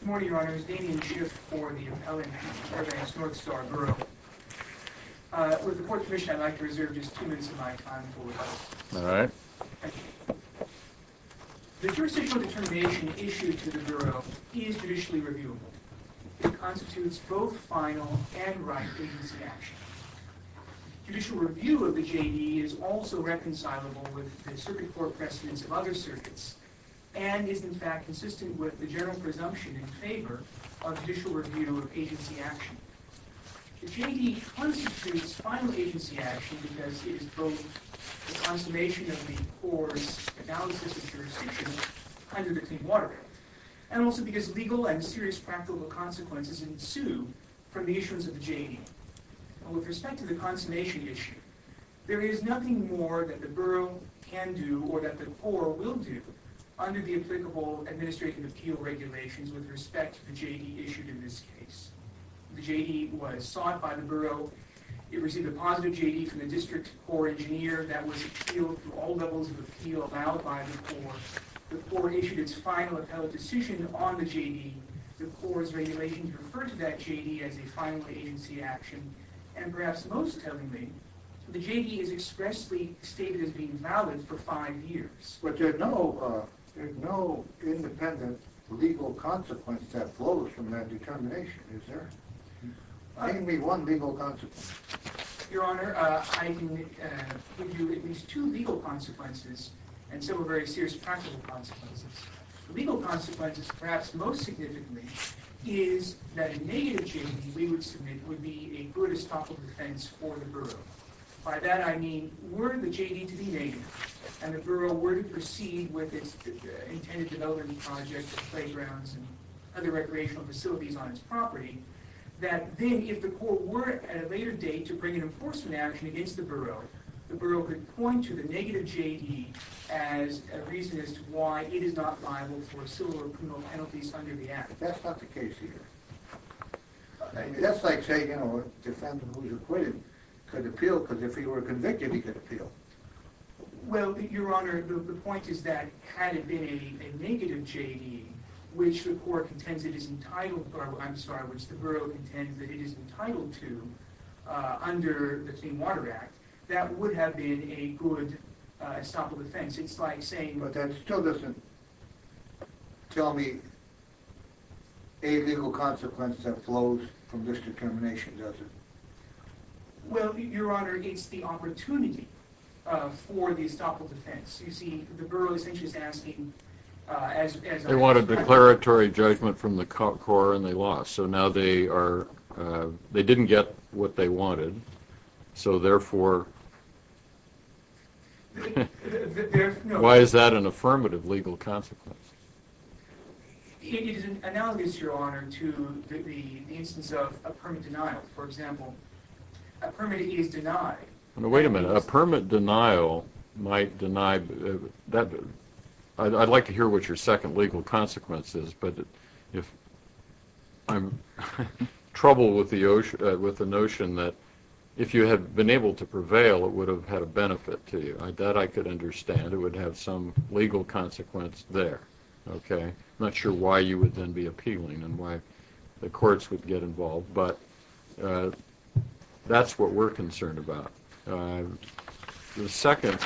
Good morning, your honors. Damian Schiff for the appellant at Corbanks North Star Bureau. With the Court's permission, I'd like to reserve just two minutes of my time before we begin. All right. Thank you. The jurisdictional determination issued to the Bureau is judicially reviewable. It constitutes both final and right evidence of action. Judicial review of the J.D. is also reconcilable with the circuit court precedents of other circuits and is, in fact, consistent with the general presumption in favor of judicial review of agency action. The J.D. constitutes final agency action because it is both the consummation of the Corps' analysis of jurisdiction under the Clean Water Act and also because legal and serious practical consequences ensue from the issuance of the J.D. With respect to the consummation issue, there is nothing more that the Bureau can do or that the Corps will do under the applicable administrative appeal regulations with respect to the J.D. issued in this case. The J.D. was sought by the Bureau. It received a positive J.D. from the district Corps engineer that was appealed through all levels of appeal allowed by the Corps. The Corps issued its final appellate decision on the J.D. The Corps' regulations refer to that J.D. as a final agency action, and perhaps most tellingly, the J.D. is expressly stated as being valid for five years. But there's no independent legal consequence that flows from that determination, is there? Name me one legal consequence. Your Honor, I can give you at least two legal consequences and some are very serious practical consequences. The legal consequences, perhaps most significantly, is that a negative J.D. we would submit would be a good estoppel defense for the Bureau. By that I mean were the J.D. to be negative and the Bureau were to proceed with its intended development project of playgrounds and other recreational facilities on its property, that then if the Corps were at a later date to bring an enforcement action against the Bureau, the Bureau could point to the negative J.D. as a reason as to why it is not liable for civil or criminal penalties under the Act. That's not the case here. That's like saying, you know, a defendant who's acquitted could appeal because if he were convicted, he could appeal. Well, Your Honor, the point is that had it been a negative J.D. which the Bureau contends that it is entitled to under the Clean Water Act, that would have been a good estoppel defense. It's like saying... But still listen. Tell me a legal consequence that flows from this determination, does it? Well, Your Honor, it's the opportunity for the estoppel defense. You see, the Bureau essentially is asking... They wanted declaratory judgment from the Corps and they lost. So now they are... They didn't get what they wanted, so therefore... Why is that an affirmative legal consequence? It is analogous, Your Honor, to the instance of a permit denial. For example, a permit is denied. Wait a minute. A permit denial might deny... I'd like to hear what your second legal consequence is, but I'm troubled with the notion that if you had been able to prevail, it would have had a benefit to you. That I could understand. It would have some legal consequence there. Okay? I'm not sure why you would then be appealing and why the courts would get involved, but that's what we're concerned about. The second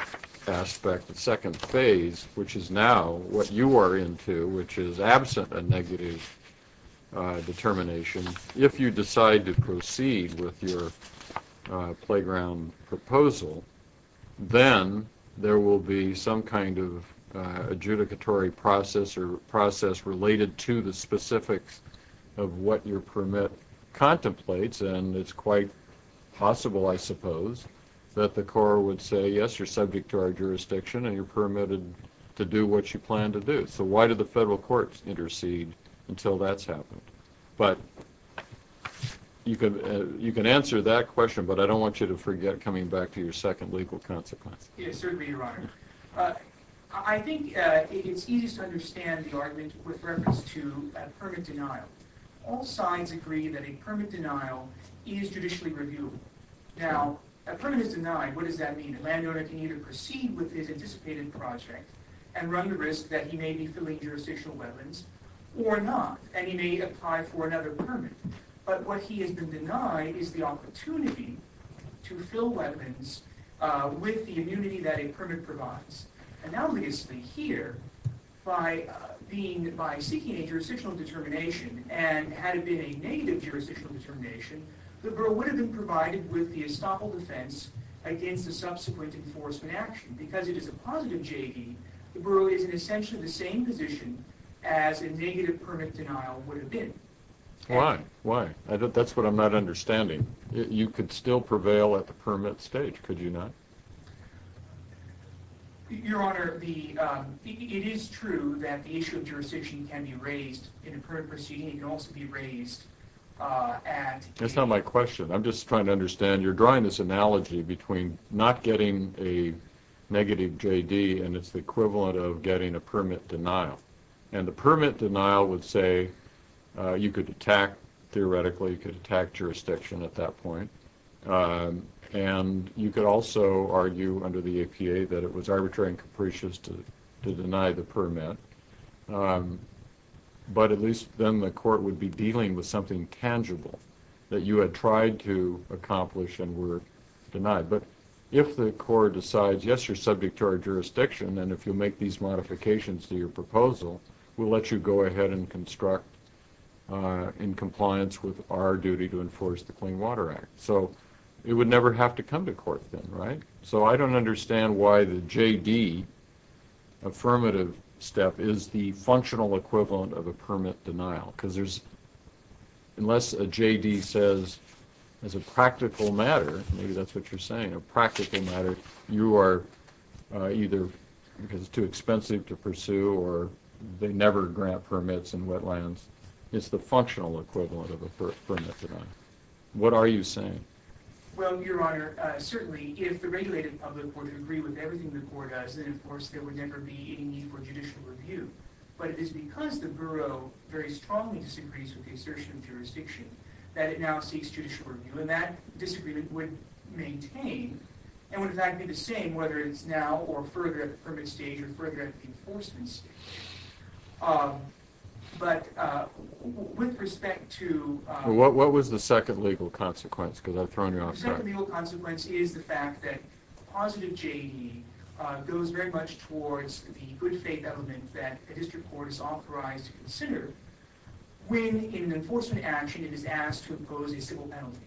aspect, the second phase, which is now what you are into, which is absent a negative determination, if you decide to proceed with your playground proposal, then there will be some kind of adjudicatory process or process related to the specifics of what your permit contemplates, and it's quite possible, I suppose, that the court would say, yes, you're subject to our jurisdiction and you're permitted to do what you plan to do. So why do the federal courts intercede until that's happened? But you can answer that question, but I don't want you to forget coming back to your second legal consequence. Yes, certainly, Your Honor. I think it's easiest to understand the argument with reference to permit denial. All sides agree that a permit denial is judicially reviewable. Now, a permit is denied. What does that mean? A landowner can either proceed with his anticipated project and run the risk that he may be filling jurisdictional wetlands or not, and he may apply for another permit. But what he has been denied is the opportunity to fill wetlands with the immunity that a permit provides. Analogously here, by seeking a jurisdictional determination, and had it been a negative jurisdictional determination, the borough would have been provided with the estoppel defense against the subsequent enforcement action. Because it is a positive JV, the borough is in essentially the same position as a negative permit denial would have been. Why? Why? That's what I'm not understanding. You could still prevail at the permit stage, could you not? Your Honor, it is true that the issue of jurisdiction can be raised in a permit proceeding. It can also be raised at the end. That's not my question. I'm just trying to understand. You're drawing this analogy between not getting a negative JD, and it's the equivalent of getting a permit denial. And a permit denial would say you could attack, theoretically, you could attack jurisdiction at that point. And you could also argue under the APA that it was arbitrary and capricious to deny the permit. But at least then the court would be dealing with something tangible that you had tried to accomplish and were denied. But if the court decides, yes, you're subject to our jurisdiction, and if you'll make these modifications to your proposal, we'll let you go ahead and construct in compliance with our duty to enforce the Clean Water Act. So it would never have to come to court then, right? So I don't understand why the JD affirmative step is the functional equivalent of a permit denial. Because unless a JD says, as a practical matter, maybe that's what you're saying, a practical matter, you are either because it's too expensive to pursue or they never grant permits in wetlands. It's the functional equivalent of a permit denial. What are you saying? Well, Your Honor, certainly if the regulated public were to agree with everything the court does, then of course there would never be any need for judicial review. But it is because the Bureau very strongly disagrees with the assertion of jurisdiction that it now seeks judicial review. And that disagreement would maintain and would in fact be the same whether it's now or further at the permit stage or further at the enforcement stage. But with respect to – What was the second legal consequence? Because I've thrown you off track. The second legal consequence is the fact that positive JD goes very much towards the good faith element that a district court is authorized to consider when in an enforcement action it is asked to impose a civil penalty.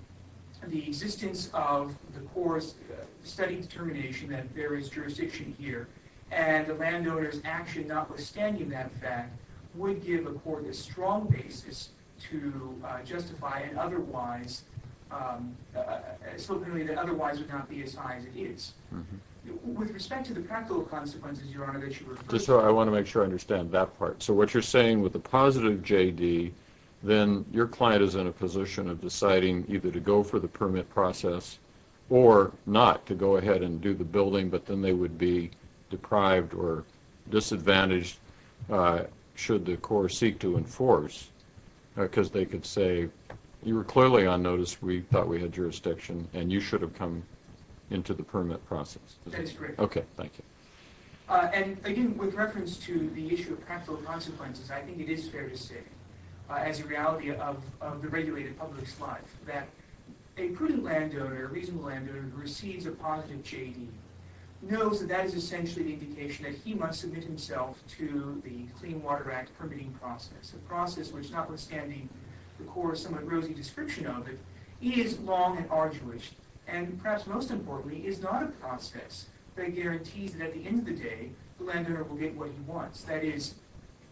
The existence of the court's study determination that there is jurisdiction here and the landowner's action notwithstanding that fact would give a court a strong basis to justify an otherwise – a civil penalty that otherwise would not be as high as it is. With respect to the practical consequences, Your Honor, that you refer to – I'm not sure I understand that part. So what you're saying with the positive JD, then your client is in a position of deciding either to go for the permit process or not to go ahead and do the building, but then they would be deprived or disadvantaged should the court seek to enforce because they could say, you were clearly on notice, we thought we had jurisdiction, and you should have come into the permit process. That is correct. Okay, thank you. And again, with reference to the issue of practical consequences, I think it is fair to say as a reality of the regulated public's life that a prudent landowner, a reasonable landowner who receives a positive JD knows that that is essentially the indication that he must submit himself to the Clean Water Act permitting process, a process which, notwithstanding the court's somewhat rosy description of it, is long and arduous and, perhaps most importantly, is not a process that guarantees that at the end of the day, the landowner will get what he wants. That is,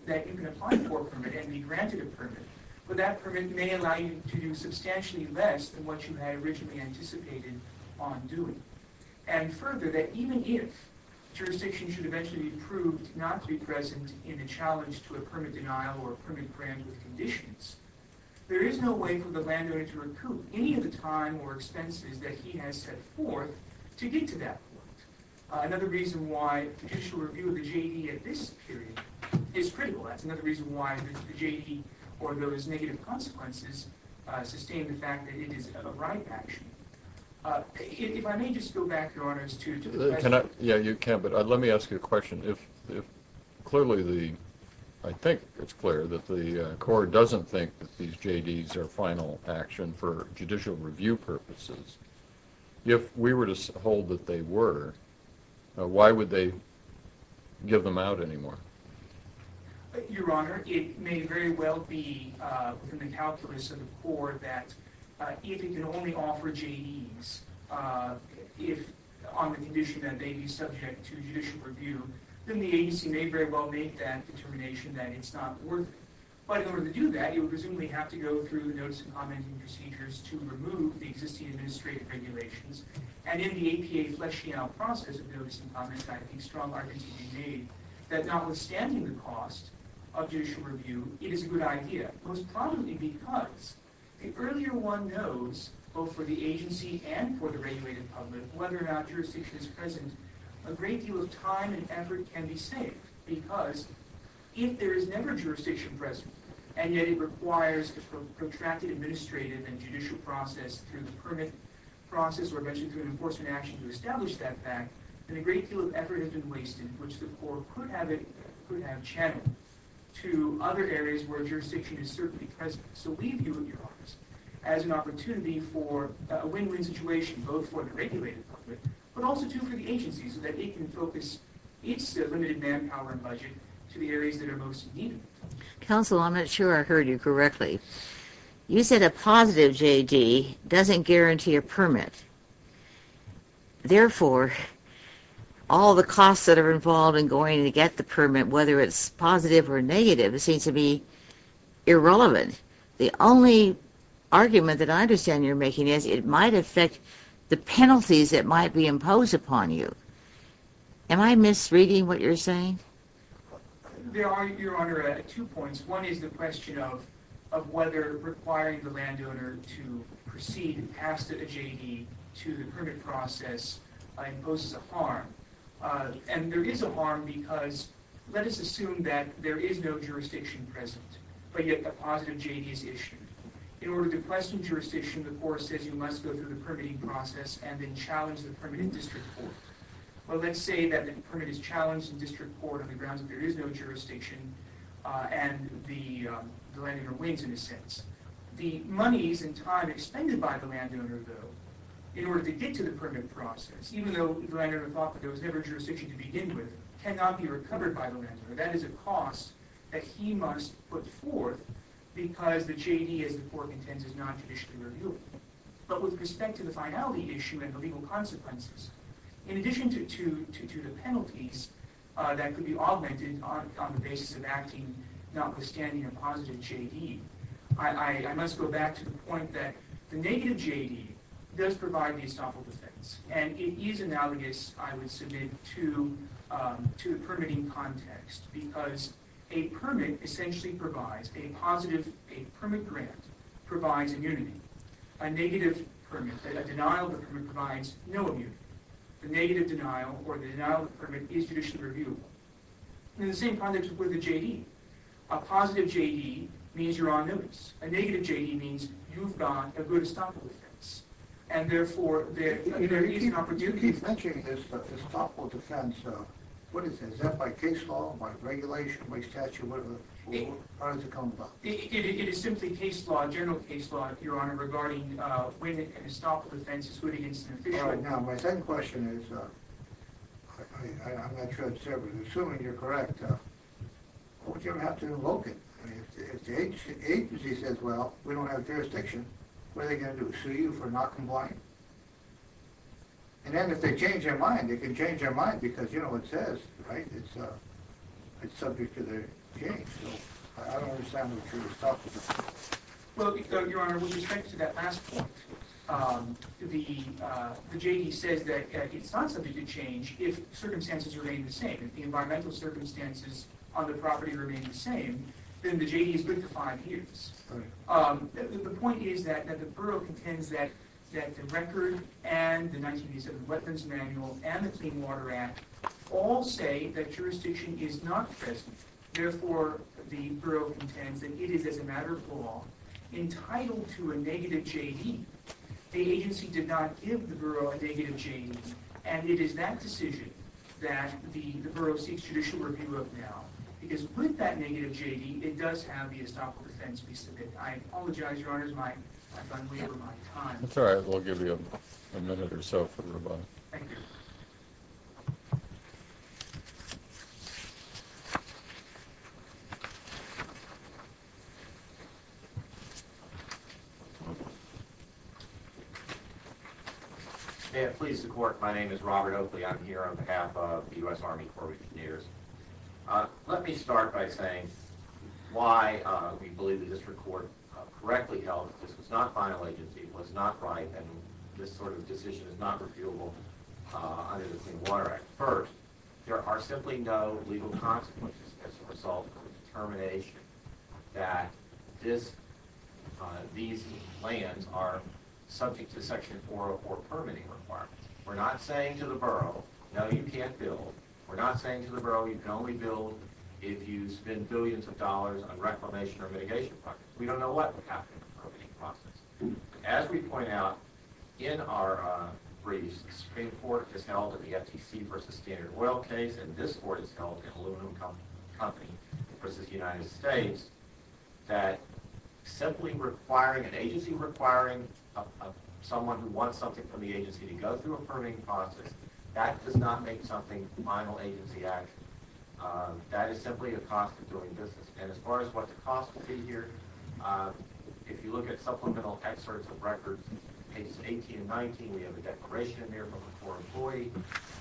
that you can apply for a permit and be granted a permit, but that permit may allow you to do substantially less than what you had originally anticipated on doing. And further, that even if jurisdiction should eventually be approved not to be present in a challenge to a permit denial or permit grant with conditions, there is no way for the landowner to recoup any of the time or expenses that he has set forth to get to that point. Another reason why judicial review of the JD at this period is critical. That's another reason why the JD, or those negative consequences, sustain the fact that it is a right action. If I may just go back, Your Honors, to the question. Yeah, you can. But let me ask you a question. Clearly, I think it's clear that the Court doesn't think that these JDs are final action for judicial review purposes. If we were to hold that they were, why would they give them out anymore? Your Honor, it may very well be in the calculus of the Court that if it can only offer JDs, if on the condition that they be subject to judicial review, then the agency may very well make that determination that it's not worth it. But in order to do that, you would presumably have to go through the notice and commenting procedures to remove the existing administrative regulations. And in the APA Flesch-Schiena process of notice and comment, I think strong arguments have been made that notwithstanding the cost of judicial review, it is a good idea, most probably because the earlier one knows, both for the agency and for the regulated public, whether or not jurisdiction is present, a great deal of time and effort can be saved. Because if there is never jurisdiction present, and yet it requires a protracted administrative and judicial process through the permit process or eventually through an enforcement action to establish that fact, then a great deal of effort has been wasted, which the Court could have channeled to other areas where jurisdiction is certainly present. So we view your office as an opportunity for a win-win situation, both for the regulated public, but also too for the agency, so that it can focus its limited manpower and budget to the areas that are most needed. Counsel, I'm not sure I heard you correctly. You said a positive J.D. doesn't guarantee a permit. Therefore, all the costs that are involved in going to get the permit, whether it's positive or negative, it seems to be irrelevant. The only argument that I understand you're making is it might affect the penalties that might be imposed upon you. Am I misreading what you're saying? There are, Your Honor, two points. One is the question of whether requiring the landowner to proceed and pass a J.D. to the permit process imposes a harm. And there is a harm, because let us assume that there is no jurisdiction present, but yet the positive J.D. is issued. In order to question jurisdiction, the Court says you must go through the permitting process and then challenge the permit in district court. Well, let's say that the permit is challenged in district court on the grounds that there is no jurisdiction, and the landowner wins, in a sense. The monies and time expended by the landowner, though, in order to get to the permit process, even though the landowner thought that there was never a jurisdiction to begin with, cannot be recovered by the landowner. That is a cost that he must put forth because the J.D., as the Court intends, is not judicially reviewable. But with respect to the finality issue and the legal consequences, in addition to the penalties that could be augmented on the basis of acting notwithstanding a positive J.D., I must go back to the point that the negative J.D. does provide the estoppel defense, and it is analogous, I would submit, to the permitting context because a permit grant provides immunity. A negative permit, a denial of a permit, provides no immunity. The negative denial or the denial of a permit is judicially reviewable. In the same context with the J.D., a positive J.D. means you're on notice. A negative J.D. means you've got a good estoppel defense, and therefore there is an opportunity. You keep mentioning this estoppel defense. What is it? Is that by case law, by regulation, by statute? How does it come about? It is simply case law, general case law, Your Honor, regarding when an estoppel defense is put against an official. All right. Now, my second question is, I'm assuming you're correct, what would you have to invoke it? If the agency says, well, we don't have jurisdiction, what are they going to do? Sue you for not complying? And then if they change their mind, they can change their mind because, you know, it says it's subject to their change. So I don't understand what you're talking about. Well, Your Honor, with respect to that last point, the J.D. says that it's not subject to change if circumstances remain the same. If the environmental circumstances on the property remain the same, then the J.D. is good to five years. The point is that the borough contends that the record and the 1987 weapons manual and the Clean Water Act all say that jurisdiction is not present. Therefore, the borough contends that it is, as a matter of law, entitled to a negative J.D. The agency did not give the borough a negative J.D., and it is that decision that the borough seeks judicial review of now. Because with that negative J.D., it does have the estoppel defense piece of it. I apologize, Your Honor, I've run way over my time. That's all right. We'll give you a minute or so for rebuttal. Thank you. May it please the Court, my name is Robert Oakley. I'm here on behalf of the U.S. Army Corps of Engineers. Let me start by saying why we believe the District Court correctly held that this was not final agency, was not right, and this sort of decision is not refutable under the Clean Water Act. First, there are simply no legal consequences as a result of the determination that these lands are subject to Section 404 permitting requirements. We're not saying to the borough, no, you can't build. We're not saying to the borough, you can only build if you spend billions of dollars on reclamation or mitigation projects. We don't know what would happen in the permitting process. As we point out in our briefs, the Supreme Court has held in the FTC v. Standard Oil case, and this Court has held in Aluminum Company v. United States, that simply requiring an agency, requiring someone who wants something from the agency to go through a permitting process, that does not make something final agency action. That is simply a cost of doing business. And as far as what the cost would be here, if you look at supplemental excerpts of records, pages 18 and 19, we have a declaration in there from a Corps employee.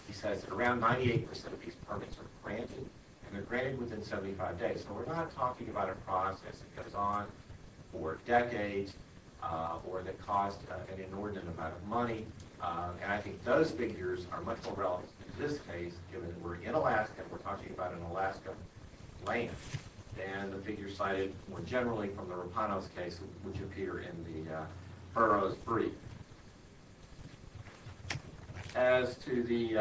He says that around 98 percent of these permits are granted, and they're granted within 75 days. So we're not talking about a process that goes on for decades or that costs an inordinate amount of money. And I think those figures are much more relevant in this case, given that we're in Alaska and we're talking about an Alaska land, than the figures cited more generally from the Rapanos case, which appear in the borough's brief. As to the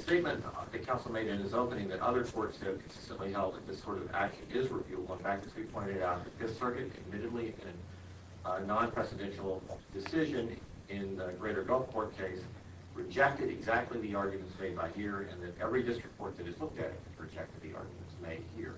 statement that counsel made in his opening, that other courts have consistently held that this sort of action is reviewable. In fact, as we pointed out, this circuit admittedly in a non-presidential decision in the Greater Gulfport case rejected exactly the arguments made by here, and that every district court that has looked at it has rejected the arguments made here.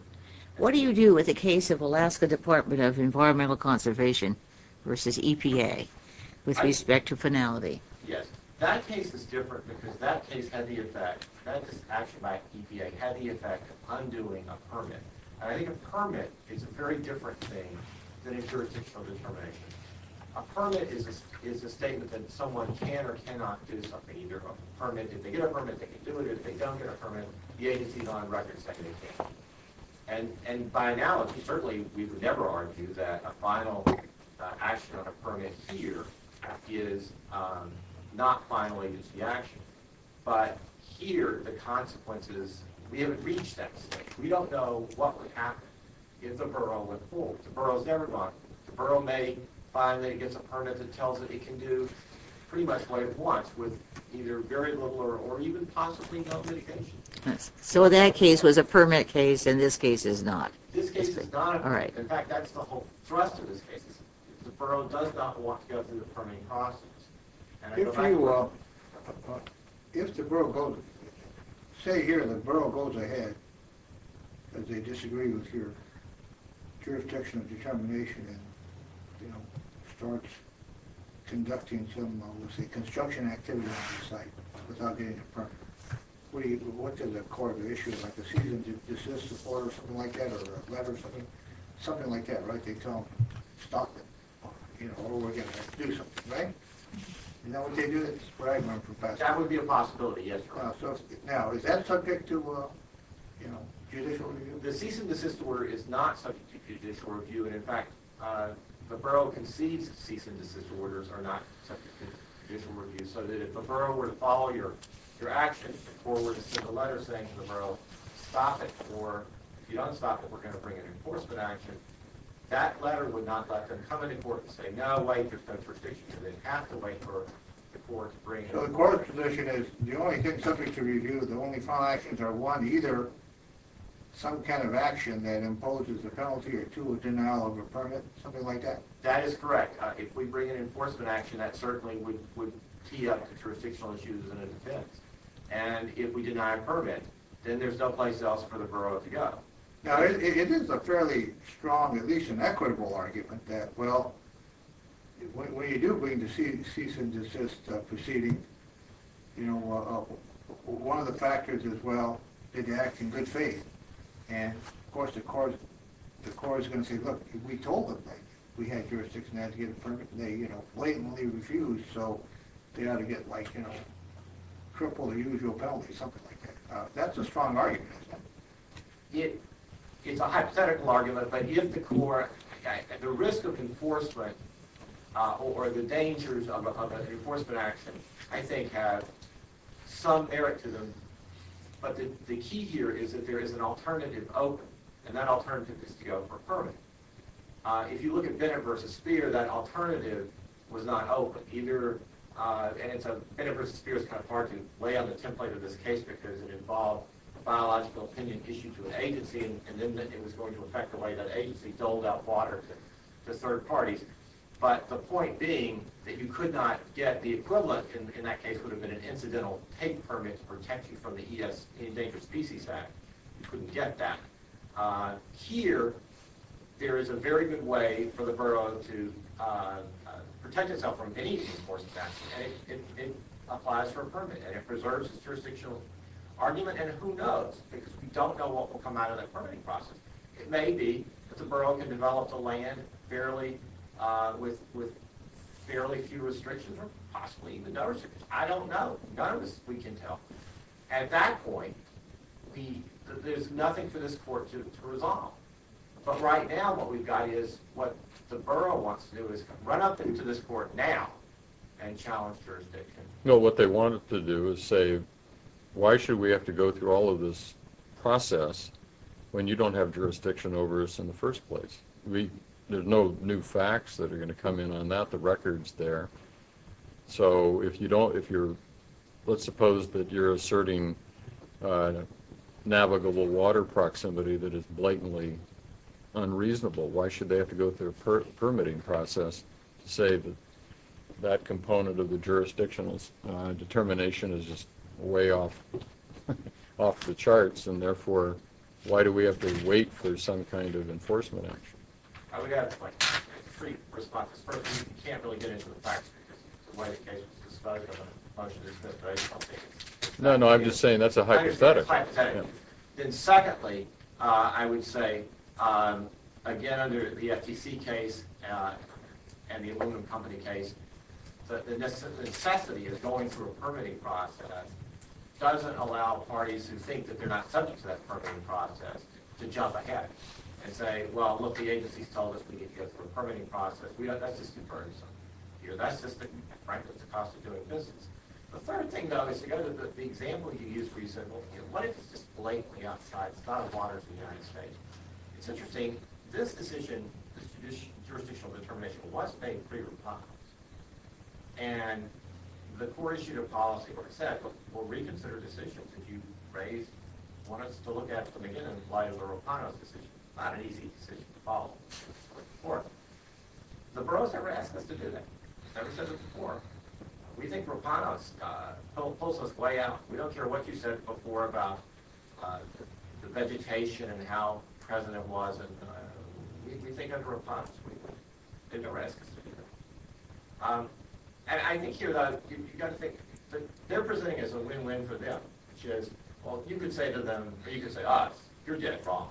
Yes. That case is different because that case had the effect, that action by EPA had the effect of undoing a permit. And I think a permit is a very different thing than a jurisdictional determination. A permit is a statement that someone can or cannot do something. Either a permit, if they get a permit, they can do it, or if they don't get a permit, the agency is on record saying they can't. And by analogy, certainly we would never argue that a final action on a permit here is not final agency action. But here, the consequence is we haven't reached that state. We don't know what would happen if the borough went forward. The borough's never gone. The borough may find that it gets a permit that tells it it can do pretty much what it wants with either very little or even possibly no mitigation. So that case was a permit case and this case is not. This case is not. All right. In fact, that's the whole thrust of this case. The borough does not want to go through the permitting process. If the borough goes ahead and they disagree with your jurisdictional determination and starts conducting some construction activity on the site without getting a permit, what does the court issue? Like a cease and desist report or something like that? Or a letter or something? Something like that, right? Or we're going to have to do something, right? That would be a possibility, yes. Now, is that subject to judicial review? The cease and desist order is not subject to judicial review. In fact, the borough concedes cease and desist orders are not subject to judicial review. So if the borough were to follow your action or were to send a letter saying to the borough, stop it or if you don't stop it, we're going to bring an enforcement action, that letter would not let them come into court and say, no, wait, there's no jurisdiction. They'd have to wait for the court to bring it over. So the court's position is the only thing subject to review, the only final actions are one, either some kind of action that imposes a penalty or two, a denial of a permit, something like that? That is correct. If we bring an enforcement action, that certainly would tee up to jurisdictional issues and a defense. And if we deny a permit, then there's no place else for the borough to go. Now, it is a fairly strong, at least an equitable argument that, well, when you do bring a cease and desist proceeding, you know, one of the factors is, well, did you act in good faith? And, of course, the court is going to say, look, we told them that we had jurisdiction, they blatantly refused, so they ought to get, like, you know, cripple the usual penalty, something like that. That's a strong argument, isn't it? It's a hypothetical argument, but if the court, at the risk of enforcement or the dangers of an enforcement action, I think have some merit to them. But the key here is that there is an alternative open, and that alternative is to go for a permit. If you look at Bennett v. Speer, that alternative was not open, either. And so Bennett v. Speer is kind of hard to lay on the template of this case because it involved a biological opinion issued to an agency, and then it was going to affect the way that agency doled out water to third parties. But the point being that you could not get the equivalent, and in that case would have been an incidental take permit to protect you from the E.S. Endangered Species Act. You couldn't get that. Here, there is a very good way for the borough to protect itself from any of these enforcement actions. It applies for a permit, and it preserves its jurisdictional argument, and who knows? Because we don't know what will come out of that permitting process. It may be that the borough can develop the land with fairly few restrictions or possibly even no restrictions. I don't know. None of us, we can tell. At that point, there's nothing for this court to resolve. But right now, what we've got is what the borough wants to do is run up into this court now and challenge jurisdiction. No, what they wanted to do is say, why should we have to go through all of this process when you don't have jurisdiction over us in the first place? There's no new facts that are going to come in on that. The record's there. So if you don't, if you're, let's suppose that you're asserting navigable water proximity that is blatantly unreasonable, why should they have to go through a permitting process to say that that component of the jurisdiction determination is just way off the charts? And therefore, why do we have to wait for some kind of enforcement action? I would add, like, three responses. First, you can't really get into the facts because the way the case was discussed, I don't know if the motion was dismissed, but I don't think it's. No, no, I'm just saying that's a hypothetical. Then secondly, I would say, again, under the FTC case and the aluminum company case, that the necessity of going through a permitting process doesn't allow parties who think that they're not subject to that permitting process to jump ahead and say, well, look, the agency's told us we can get through a permitting process. That's just unfairness. That's just, frankly, the cost of doing business. The third thing, though, is to go to the example you used where you said, well, what if it's just blatantly outside? It's not water. It's the United States. It's interesting. This decision, this jurisdictional determination, was made pre-Ropano's. And the core issue of policy, like I said, was we'll reconsider decisions. Did you want us to look at them again in light of the Ropano's decision? Not an easy decision to follow. The borough's never asked us to do that. It's never said it before. We think Ropano's pulls us way out. We don't care what you said before about the vegetation and how present it was. We think under Ropano's, we didn't ask us to do that. And I think here, though, you've got to think, they're presenting it as a win-win for them, which is, well, you can say to them, or you can say to us, you're dead wrong,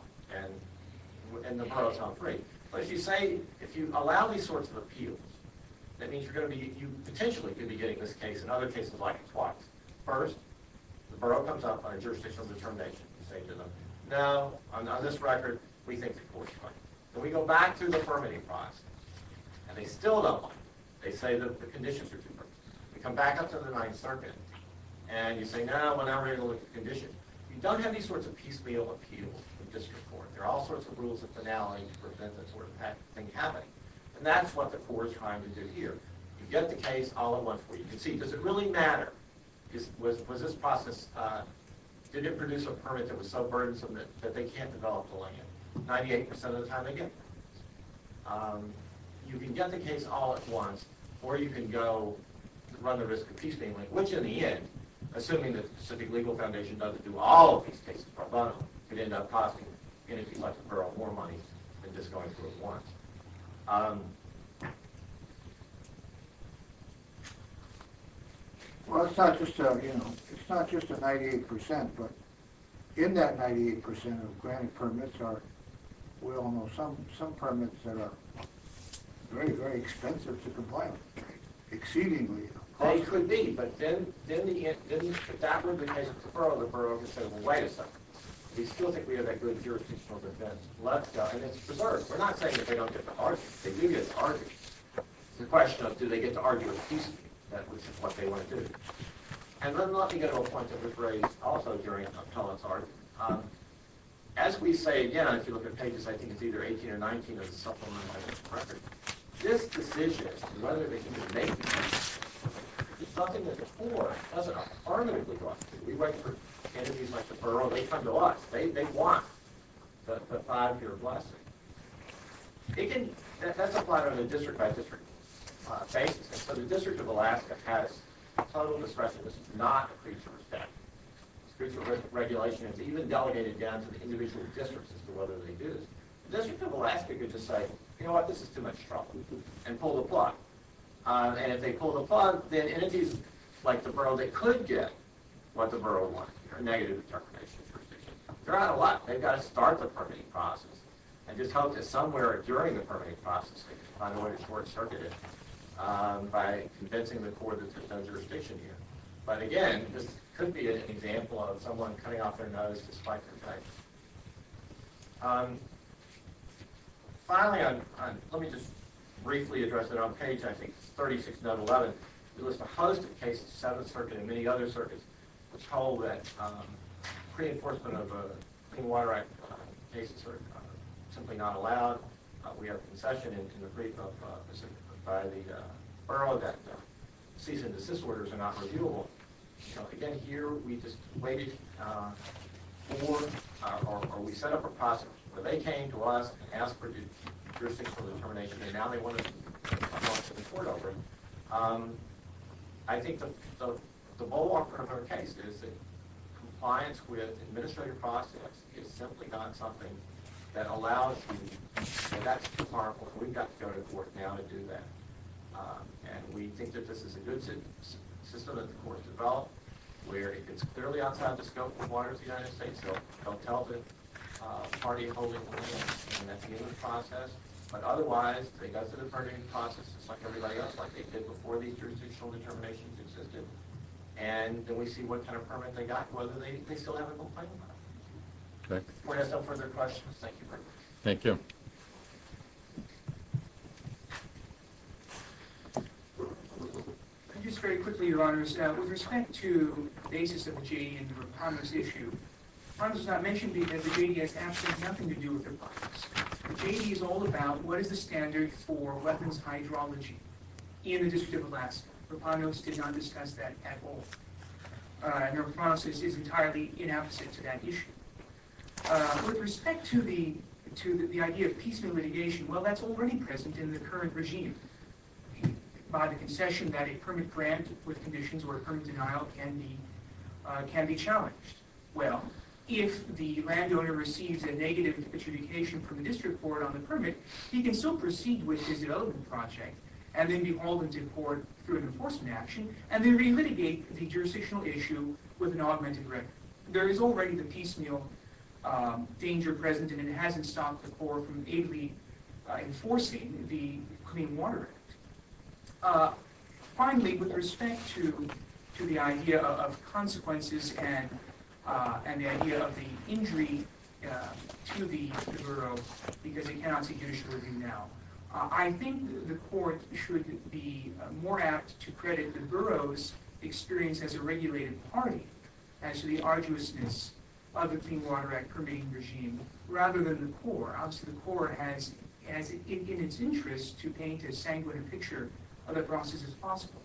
and the borough's not free. But if you say, if you allow these sorts of appeals, that means you're going to be, you potentially could be getting this case and other cases like it twice. First, the borough comes up on a jurisdictional determination. You say to them, no, on this record, we think the court's right. Then we go back through the permitting process, and they still don't like it. They say the conditions are too perfect. We come back up to the Ninth Circuit, and you say, no, we're not ready to look at the conditions. You don't have these sorts of piecemeal appeals with district court. There are all sorts of rules of finality to prevent that sort of thing happening. And that's what the court is trying to do here. You get the case all at once where you can see, does it really matter? Was this process, did it produce a permit that was so burdensome that they can't develop the land? Ninety-eight percent of the time, they get the case. You can get the case all at once, or you can go run the risk of piecemealing, which in the end, assuming that the Pacific Legal Foundation doesn't do all of these cases pro bono, could end up costing any people at the borough more money than just going through it once. Well, it's not just a ninety-eight percent, but in that ninety-eight percent of granted permits are, we all know, some permits that are very, very expensive to comply with, exceedingly costly. They could be, but then that would be the case of the borough. The borough would say, well, wait a second. They still think we have that good jurisdictional defense, and it's preserved. We're not saying that they don't get to argue. They do get to argue. It's a question of, do they get to argue with piecemealing? That's what they want to do. And let me get to a point that was raised also during Tom's argument. As we say again, if you look at pages, I think it's either 18 or 19 of the supplemental evidence of record, this decision as to whether they can just make the case is something that the Corps doesn't affirmatively want to do. We work for entities like the borough. They come to us. They want the five-year blessing. That's applied on a district-by-district basis. So the District of Alaska has total discretion. This is not a creature of statute. This creature of regulation is even delegated down to the individual districts as to whether they do this. The District of Alaska could just say, you know what, this is too much trouble, and pull the plug. And if they pull the plug, then entities like the borough, they could get what the borough wanted, a negative determination of jurisdiction. They're out of luck. They've got to start the permitting process and just hope that somewhere during the permitting process they can find a way to short-circuit it by convincing the Corps that there's no jurisdiction here. But again, this could be an example of someone cutting off their nose to swipe their paper. Finally, let me just briefly address it on page, I think, 36, note 11. We list a host of cases, Seventh Circuit and many other circuits, which hold that pre-enforcement of Clean Water Act cases are simply not allowed. We have concession into the brief by the borough that cease and desist orders are not reviewable. Again, here we just waited for, or we set up a process where they came to us and asked for jurisdiction for determination, and now they want to come up to the court over it. I think the model of our case is that compliance with administrative process is simply not something that allows you, and that's too harmful, and we've got to go to court now to do that. And we think that this is a good system that the Corps has developed, where if it's clearly outside the scope of the waters of the United States, they'll tell the party holding the land, and that's the end of the process. But otherwise, they go through the permitting process just like everybody else, like they did before these jurisdictional determinations existed, and then we see what kind of permit they got and whether they still have a complaint about it. If the court has no further questions, thank you very much. Just very quickly, Your Honors, with respect to the basis of the JD and Rapanos issue, Rapanos was not mentioned because the JD has absolutely nothing to do with Rapanos. The JD is all about what is the standard for weapons hydrology in the District of Alaska. Rapanos did not discuss that at all, and their process is entirely inapposite to that issue. With respect to the idea of peaceful litigation, well, that's already present in the current regime. By the concession that a permit grant with conditions or a permit denial can be challenged. Well, if the landowner receives a negative attribution from the district court on the permit, he can still proceed with his development project and then be hauled into court through an enforcement action and then relitigate the jurisdictional issue with an augmented record. There is already the piecemeal danger present, and it hasn't stopped the court from ably enforcing the Clean Water Act. Finally, with respect to the idea of consequences and the idea of the injury to the borough, because it cannot take initial review now, I think the court should be more apt to credit the borough's experience as a regulated party as to the arduousness of the Clean Water Act permitting regime rather than the court. Obviously, the court has it in its interest to paint as sanguine a picture of the process as possible,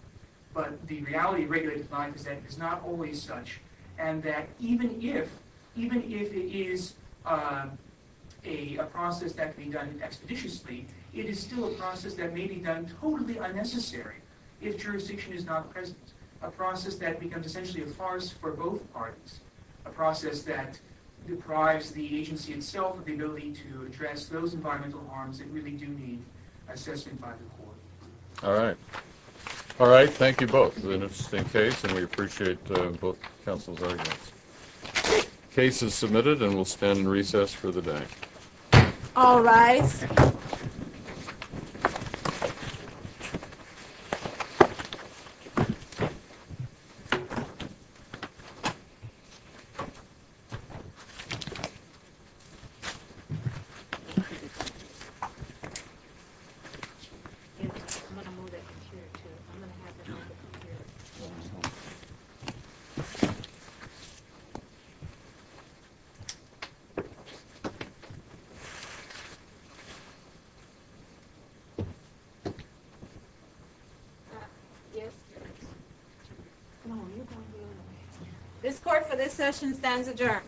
but the reality of regulated life is that it is not always such, and that even if it is a process that can be done expeditiously, it is still a process that may be done totally unnecessary if jurisdiction is not present, a process that becomes essentially a farce for both parties, a process that deprives the agency itself of the ability to address those environmental harms that really do need assessment by the court. Thank you. Thank you. This court for this session stands adjourned.